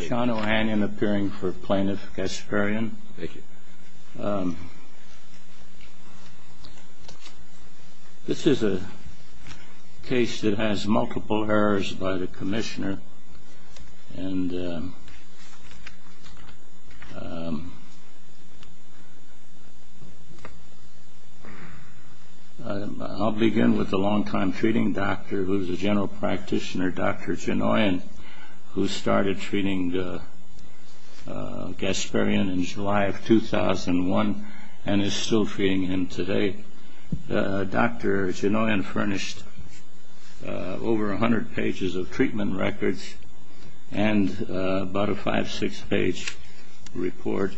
Sean O'Hanion appearing for Plaintiff Gasparyan. Thank you. This is a case that has multiple errors by the Commissioner. I'll begin with a long-time treating doctor who is a general practitioner, Dr. Chinoyan, who started treating Gasparyan in July of 2001 and is still treating him today. Dr. Chinoyan furnished over 100 pages of treatment records and about a 5-6 page report.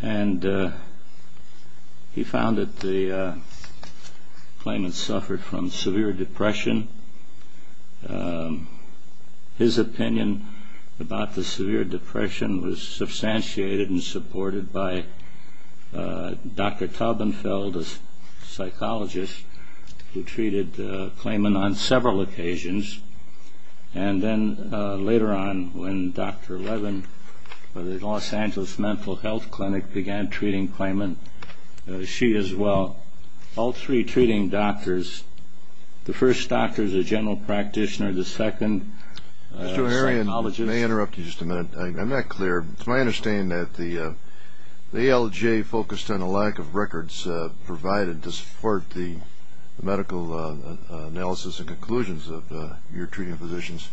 He found that the claimant suffered from severe depression. His opinion about the severe depression was substantiated and supported by Dr. Taubenfeld, a psychologist, who treated the claimant on several occasions. Later on, when Dr. Levin of the Los Angeles Mental Health Clinic began treating the claimant, she as well, all three treating doctors, the first doctor is a general practitioner, the second is a psychologist. May I interrupt you just a minute? I'm not clear. It's my understanding that the ALJ focused on a lack of records provided to support the medical analysis and conclusions of your treating physicians,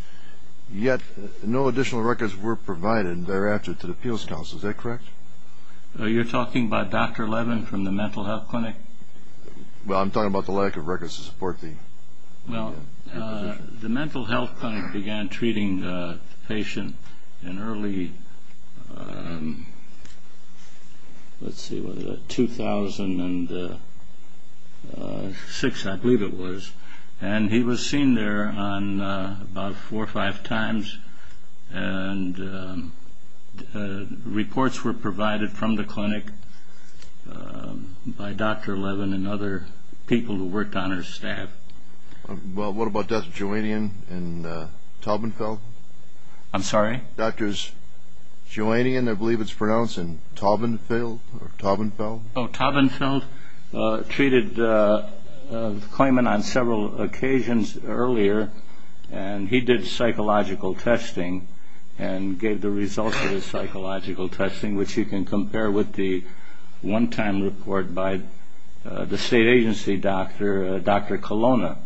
yet no additional records were provided thereafter to the Appeals Council. Is that correct? You're talking about Dr. Levin from the Mental Health Clinic? Well, I'm talking about the lack of records to support the position. Well, the Mental Health Clinic began treating the patient in early 2006, I believe it was, and he was seen there about four or five times. And reports were provided from the clinic by Dr. Levin and other people who worked on her staff. Well, what about Dr. Joannian and Taubenfeld? I'm sorry? Dr. Joannian, I believe it's pronounced, and Taubenfeld, or Taubenfeld? Oh, Taubenfeld treated the claimant on several occasions earlier, and he did psychological testing and gave the results of his psychological testing, which you can compare with the one-time report by the state agency doctor, Dr. Colonna.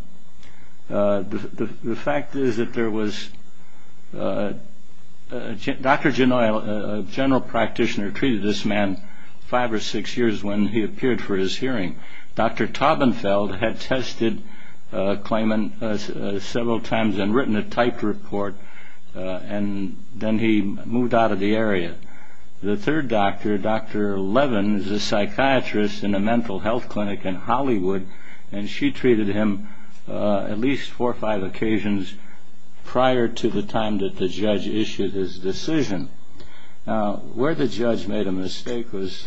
The fact is that there was – Dr. Genoy, a general practitioner, treated this man five or six years when he appeared for his hearing. Dr. Taubenfeld had tested the claimant several times and written a typed report, and then he moved out of the area. The third doctor, Dr. Levin, is a psychiatrist in a mental health clinic in Hollywood, and she treated him at least four or five occasions prior to the time that the judge issued his decision. Now, where the judge made a mistake was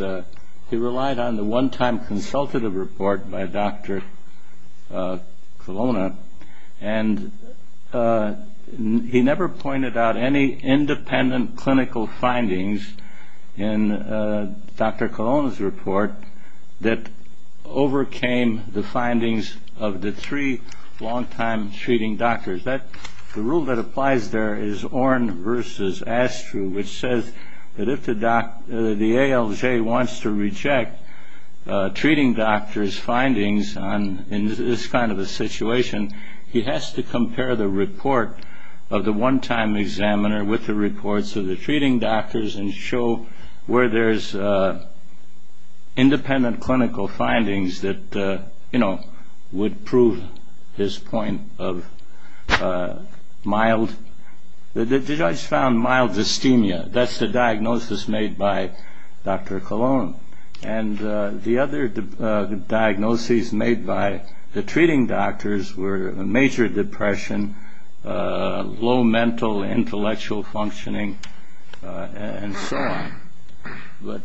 he relied on the one-time consultative report by Dr. Colonna, and he never pointed out any independent clinical findings in Dr. Colonna's report that overcame the findings of the three long-time treating doctors. The rule that applies there is Orne versus Astru, which says that if the ALJ wants to reject treating doctors' findings in this kind of a situation, he has to compare the report of the one-time examiner with the reports of the treating doctors and show where there's independent clinical findings that, you know, would prove his point of mild – And the other diagnoses made by the treating doctors were major depression, low mental intellectual functioning, and so on. But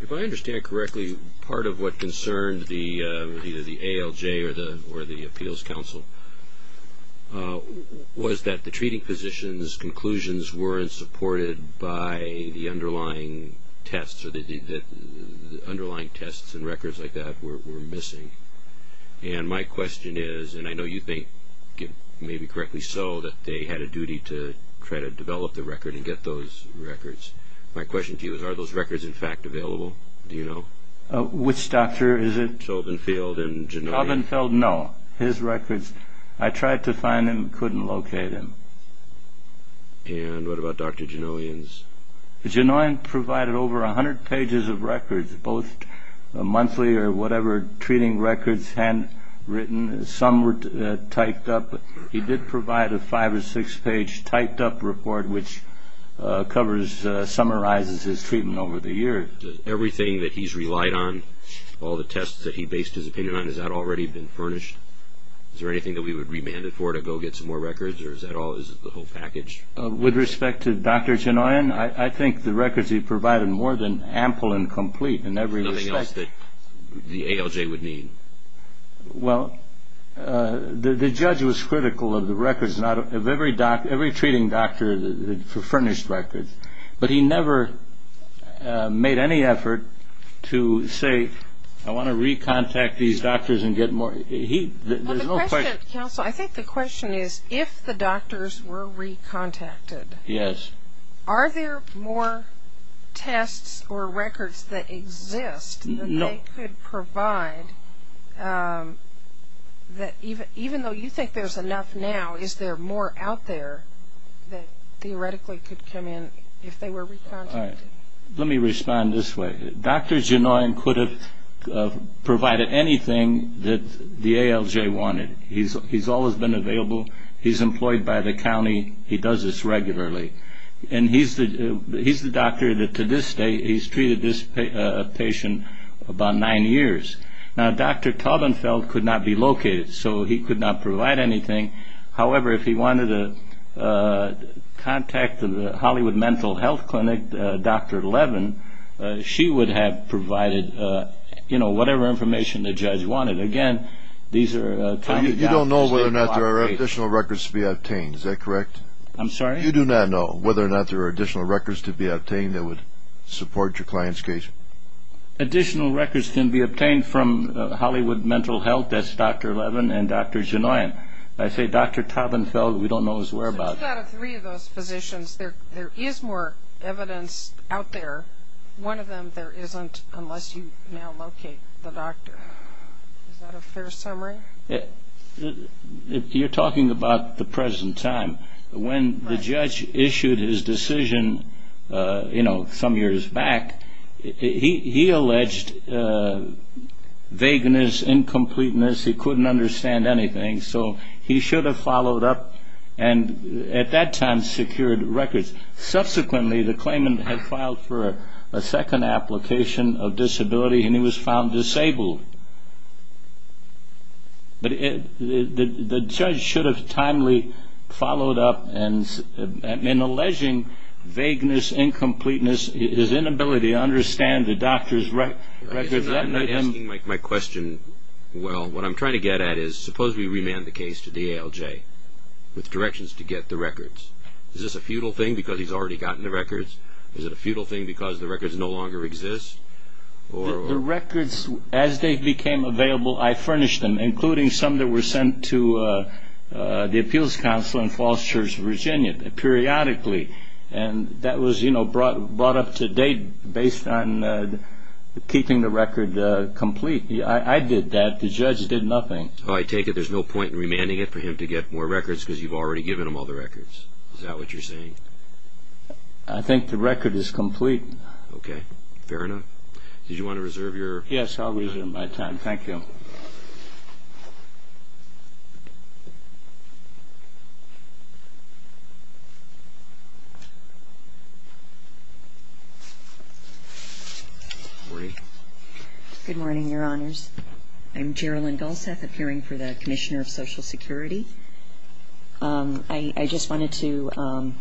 if I understand correctly, part of what concerned either the ALJ or the Appeals Council was that the treating physicians' conclusions weren't supported by the underlying tests, or the underlying tests and records like that were missing. And my question is – and I know you think, maybe correctly so, that they had a duty to try to develop the record and get those records. My question to you is, are those records, in fact, available? Do you know? Which doctor is it? Chauvinfield and Genoian. Chauvinfield, no. His records – I tried to find him, couldn't locate him. And what about Dr. Genoian's? Genoian provided over 100 pages of records, both monthly or whatever, treating records, handwritten. Some were typed up. He did provide a five- or six-page typed-up report, which covers – summarizes his treatment over the year. Everything that he's relied on, all the tests that he based his opinion on, has that already been furnished? Is there anything that we would remand it for to go get some more records, or is that all – is it the whole package? With respect to Dr. Genoian, I think the records he provided were more than ample and complete in every respect. Nothing else that the ALJ would need? Well, the judge was critical of the records – of every treating doctor for furnished records. But he never made any effort to say, I want to recontact these doctors and get more. There's no question. Counsel, I think the question is, if the doctors were recontacted, are there more tests or records that exist than they could provide? Even though you think there's enough now, is there more out there that theoretically could come in if they were recontacted? Let me respond this way. Dr. Genoian could have provided anything that the ALJ wanted. He's always been available. He's employed by the county. He does this regularly. And he's the doctor that, to this day, he's treated this patient about nine years. Now, Dr. Taubenfeld could not be located, so he could not provide anything. However, if he wanted to contact the Hollywood Mental Health Clinic, Dr. Levin, she would have provided whatever information the judge wanted. Again, these are county doctors. You don't know whether or not there are additional records to be obtained. Is that correct? I'm sorry? You do not know whether or not there are additional records to be obtained that would support your client's case? Additional records can be obtained from Hollywood Mental Health. That's Dr. Levin and Dr. Genoian. I say Dr. Taubenfeld. We don't know his whereabouts. So two out of three of those physicians, there is more evidence out there. One of them there isn't unless you now locate the doctor. Is that a fair summary? You're talking about the present time. When the judge issued his decision, you know, some years back, he alleged vagueness, incompleteness. He couldn't understand anything, so he should have followed up and at that time secured records. Subsequently, the claimant had filed for a second application of disability, and he was found disabled. But the judge should have timely followed up in alleging vagueness, incompleteness, his inability to understand the doctor's records. I'm not asking my question well. What I'm trying to get at is suppose we remand the case to the ALJ with directions to get the records. Is this a futile thing because he's already gotten the records? Is it a futile thing because the records no longer exist? The records, as they became available, I furnished them, including some that were sent to the appeals council in Fosters, Virginia, periodically. And that was brought up to date based on keeping the record complete. I did that. The judge did nothing. I take it there's no point in remanding it for him to get more records because you've already given him all the records. Is that what you're saying? I think the record is complete. Okay. Fair enough. Did you want to reserve your time? Yes, I'll reserve my time. Thank you. Good morning, Your Honors. I'm Gerilyn Gullseth, appearing for the Commissioner of Social Security. I just wanted to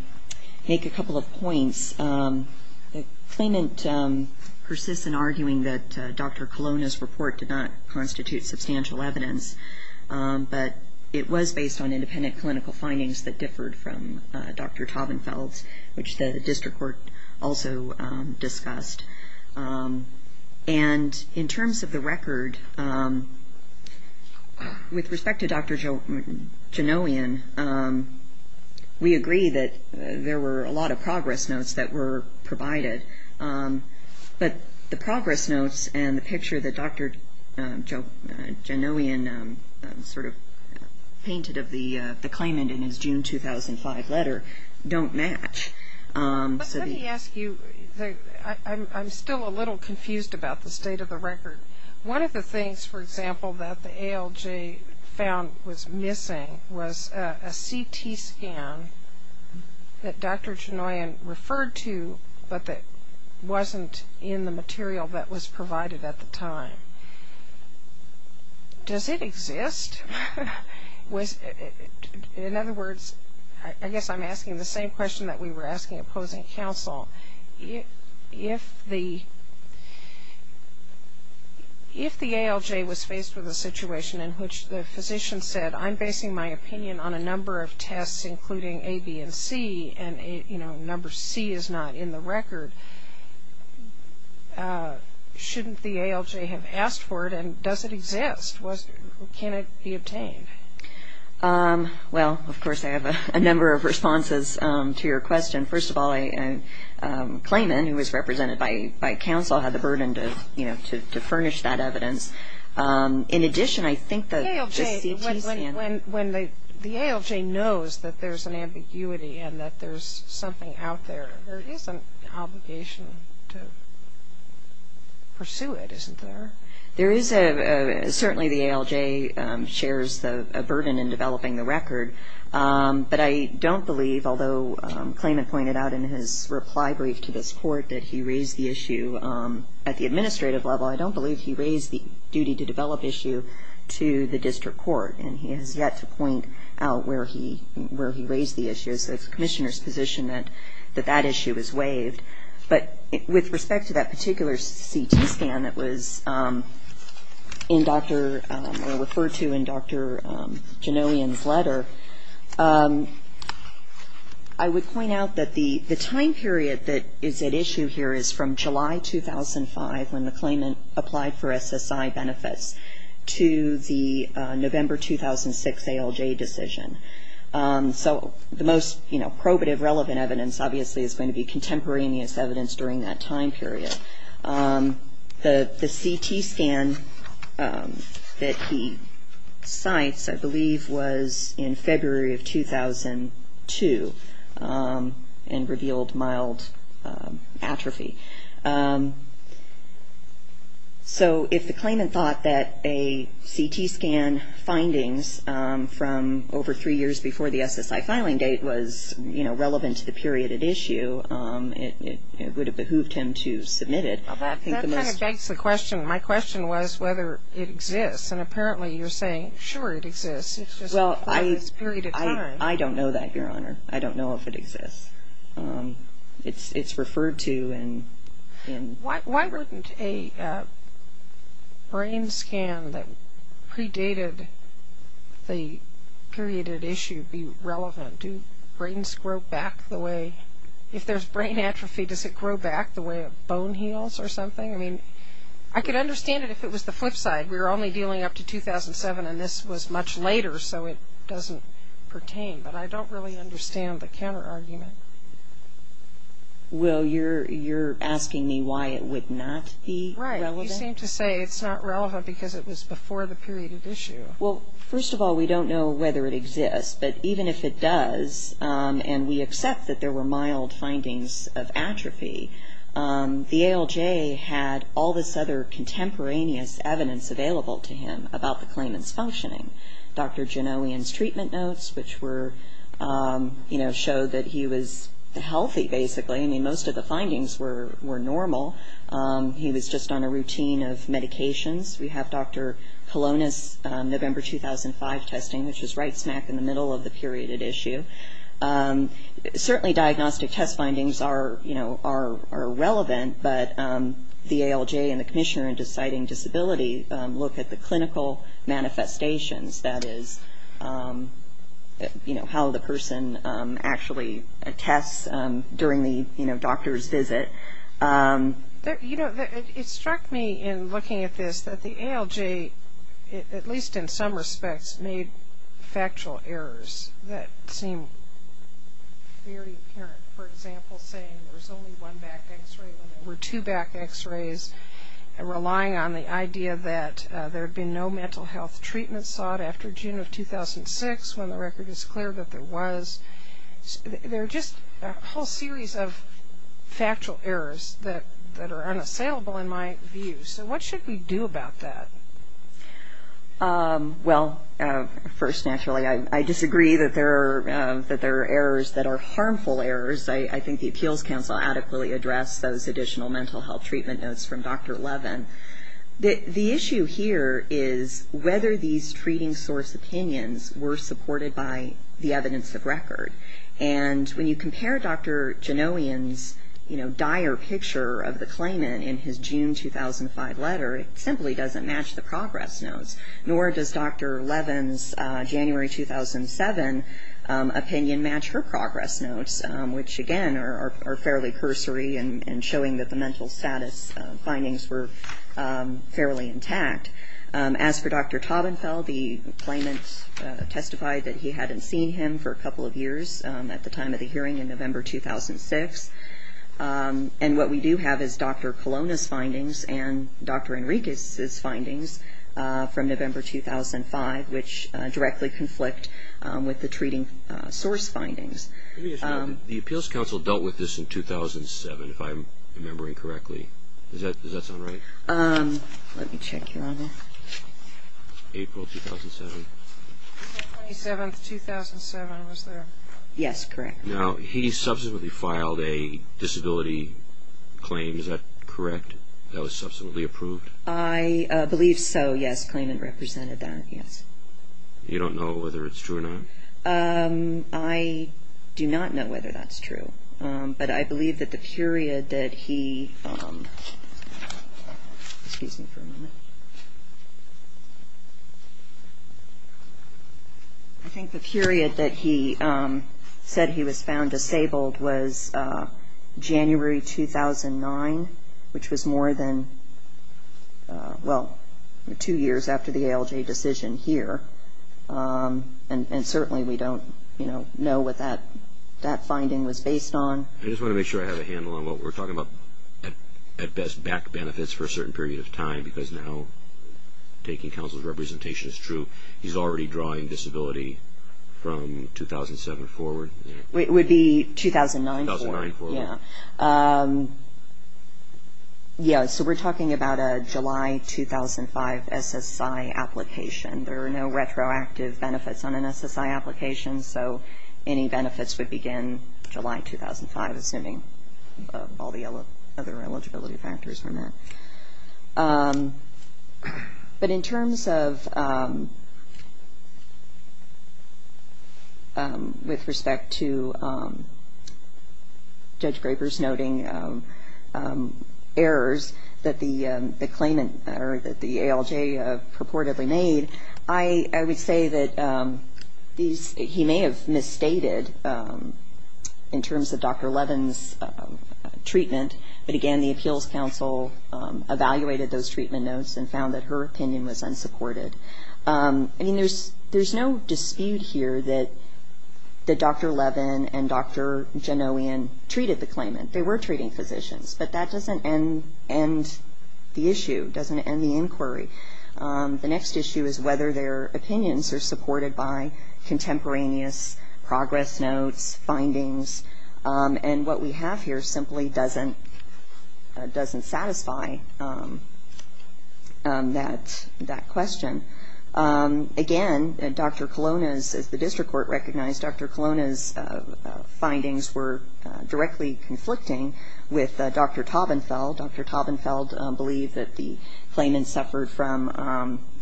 make a couple of points. The claimant persists in arguing that Dr. Colonna's report did not constitute substantial evidence, but it was based on independent clinical findings that differed from Dr. Taubenfeld's, which the district court also discussed. And in terms of the record, with respect to Dr. Janowian, we agree that there were a lot of progress notes that were provided. But the progress notes and the picture that Dr. Janowian sort of painted of the claimant in his June 2005 letter don't match. But let me ask you, I'm still a little confused about the state of the record. One of the things, for example, that the ALJ found was missing was a CT scan that Dr. Janowian referred to, but that wasn't in the material that was provided at the time. Does it exist? In other words, I guess I'm asking the same question that we were asking opposing counsel. If the ALJ was faced with a situation in which the physician said, I'm basing my opinion on a number of tests, including A, B, and C, and, you know, number C is not in the record, shouldn't the ALJ have asked for it, and does it exist? Can it be obtained? Well, of course, I have a number of responses to your question. First of all, a claimant who was represented by counsel had the burden to, you know, to furnish that evidence. In addition, I think the CT scan… When the ALJ knows that there's an ambiguity and that there's something out there, there is an obligation to pursue it, isn't there? There is a… Certainly the ALJ shares a burden in developing the record, but I don't believe, although a claimant pointed out in his reply brief to this court that he raised the issue at the administrative level, I don't believe he raised the duty to develop issue to the district court, and he has yet to point out where he raised the issue. So it's the commissioner's position that that issue is waived. But with respect to that particular CT scan that was in Dr.… or referred to in Dr. Janowian's letter, I would point out that the time period that is at issue here is from July 2005, when the claimant applied for SSI benefits, to the November 2006 ALJ decision. So the most probative, relevant evidence, obviously, is going to be contemporaneous evidence during that time period. The CT scan that he cites, I believe, was in February of 2002 and revealed mild atrophy. So if the claimant thought that a CT scan findings from over three years before the SSI filing date was, you know, relevant to the period at issue, it would have behooved him to submit it. That kind of begs the question. My question was whether it exists, and apparently you're saying, sure, it exists. It's just… Well, I don't know that, Your Honor. I don't know if it exists. It's referred to in… Why wouldn't a brain scan that predated the period at issue be relevant? Do brains grow back the way… If there's brain atrophy, does it grow back the way a bone heals or something? I mean, I could understand it if it was the flip side. We were only dealing up to 2007, and this was much later, so it doesn't pertain. But I don't really understand the counterargument. Well, you're asking me why it would not be relevant? Right. You seem to say it's not relevant because it was before the period at issue. Well, first of all, we don't know whether it exists, but even if it does, and we accept that there were mild findings of atrophy, the ALJ had all this other contemporaneous evidence available to him about the claimant's functioning. Dr. Janowian's treatment notes, which were, you know, showed that he was healthy, basically. I mean, most of the findings were normal. He was just on a routine of medications. We have Dr. Colonis' November 2005 testing, which was right smack in the middle of the period at issue. Certainly diagnostic test findings are, you know, are relevant, but the ALJ and the commissioner in deciding disability look at the clinical manifestations, that is, you know, how the person actually tests during the, you know, doctor's visit. You know, it struck me in looking at this that the ALJ, at least in some respects, made factual errors that seemed very apparent. For example, saying there's only one back X-ray when there were two back X-rays, relying on the idea that there had been no mental health treatment sought after June of 2006 when the record is clear that there was. There are just a whole series of factual errors that are unassailable in my view. So what should we do about that? Well, first, naturally, I disagree that there are errors that are harmful errors. I think the Appeals Council adequately addressed those additional mental health treatment notes from Dr. Levin. The issue here is whether these treating source opinions were supported by the evidence of record. And when you compare Dr. Janowian's, you know, dire picture of the claimant in his June 2005 letter, it simply doesn't match the progress notes. Nor does Dr. Levin's January 2007 opinion match her progress notes, which again are fairly cursory in showing that the mental status findings were fairly intact. As for Dr. Tabenfeld, the claimant testified that he hadn't seen him for a couple of years at the time of the hearing in November 2006. And what we do have is Dr. Colonna's findings and Dr. Enriquez's findings from November 2005, which directly conflict with the treating source findings. The Appeals Council dealt with this in 2007, if I'm remembering correctly. Does that sound right? Let me check, Your Honor. April 2007. The 27th, 2007, was there? Yes, correct. Now, he subsequently filed a disability claim, is that correct, that was subsequently approved? I believe so, yes. The claimant represented that, yes. You don't know whether it's true or not? I do not know whether that's true. But I believe that the period that he, excuse me for a moment. I think the period that he said he was found disabled was January 2009, which was more than, well, two years after the ALJ decision here. And certainly we don't, you know, know what that finding was based on. I just want to make sure I have a handle on what we're talking about, at best back benefits for a certain period of time, because now taking counsel's representation is true. He's already drawing disability from 2007 forward? It would be 2009 forward, yes. So we're talking about a July 2005 SSI application. There are no retroactive benefits on an SSI application, so any benefits would begin July 2005, assuming all the other eligibility factors were met. But in terms of with respect to Judge Graper's noting errors that the claimant, or that the ALJ purportedly made, I would say that these, he may have misstated in terms of Dr. Levin's treatment, but again the appeals counsel evaluated those treatment notes and found that her opinion was unsupported. I mean, there's no dispute here that Dr. Levin and Dr. Janowian treated the claimant. They were treating physicians, but that doesn't end the issue, doesn't end the inquiry. The next issue is whether their opinions are supported by contemporaneous progress notes, findings, and what we have here simply doesn't satisfy that question. Again, Dr. Colonna's, as the district court recognized, Dr. Colonna's findings were directly conflicting with Dr. Taubenfeld. Dr. Taubenfeld believed that the claimant suffered from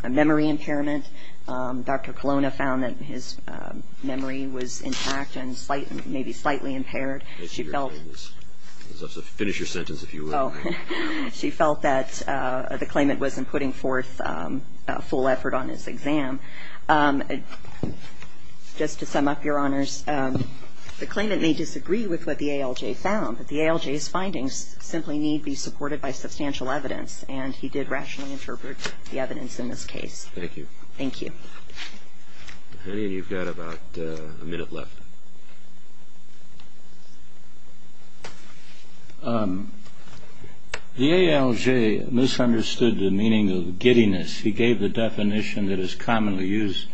a memory impairment. Dr. Colonna found that his memory was intact and maybe slightly impaired. Finish your sentence, if you will. She felt that the claimant wasn't putting forth a full effort on his exam. Just to sum up, Your Honors, the claimant may disagree with what the ALJ found, but the ALJ's findings simply need be supported by substantial evidence, and he did rationally interpret the evidence in this case. Thank you. Thank you. You've got about a minute left. The ALJ misunderstood the meaning of giddiness. He gave the definition that is commonly used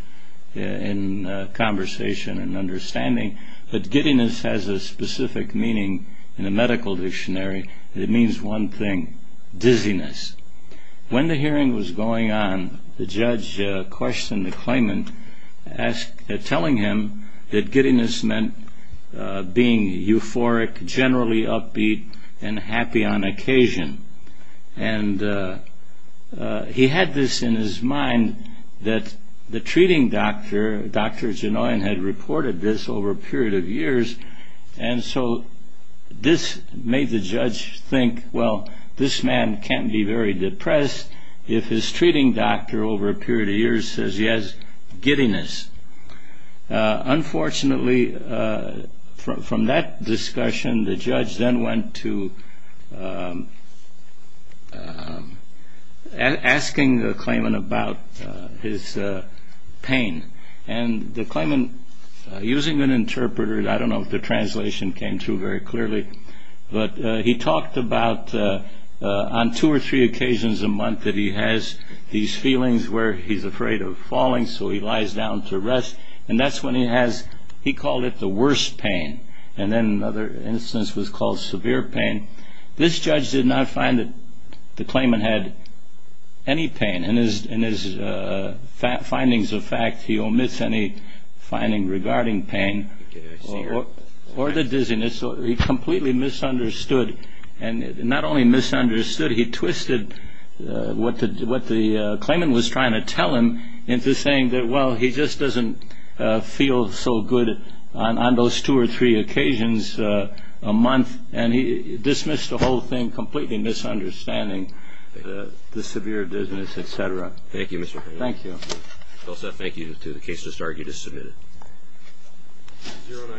in conversation and understanding, but giddiness has a specific meaning in the medical dictionary. It means one thing, dizziness. When the hearing was going on, the judge questioned the claimant, telling him that giddiness meant being euphoric, generally upbeat, and happy on occasion. And he had this in his mind that the treating doctor, Dr. Genoyan, had reported this over a period of years, and so this made the judge think, well, this man can't be very depressed if his treating doctor over a period of years says he has giddiness. Unfortunately, from that discussion, the judge then went to asking the claimant about his pain. And the claimant, using an interpreter, I don't know if the translation came through very clearly, but he talked about on two or three occasions a month that he has these feelings where he's afraid of falling, so he lies down to rest, and that's when he has, he called it the worst pain, and then another instance was called severe pain. This judge did not find that the claimant had any pain. In his findings of fact, he omits any finding regarding pain or the dizziness. He completely misunderstood, and not only misunderstood, he twisted what the claimant was trying to tell him into saying that, well, he just doesn't feel so good on those two or three occasions a month, and he dismissed the whole thing, completely misunderstanding the severe dizziness, et cetera. Thank you, Mr. Hale. Thank you. Well, Seth, thank you. The case has started. You're dismissed.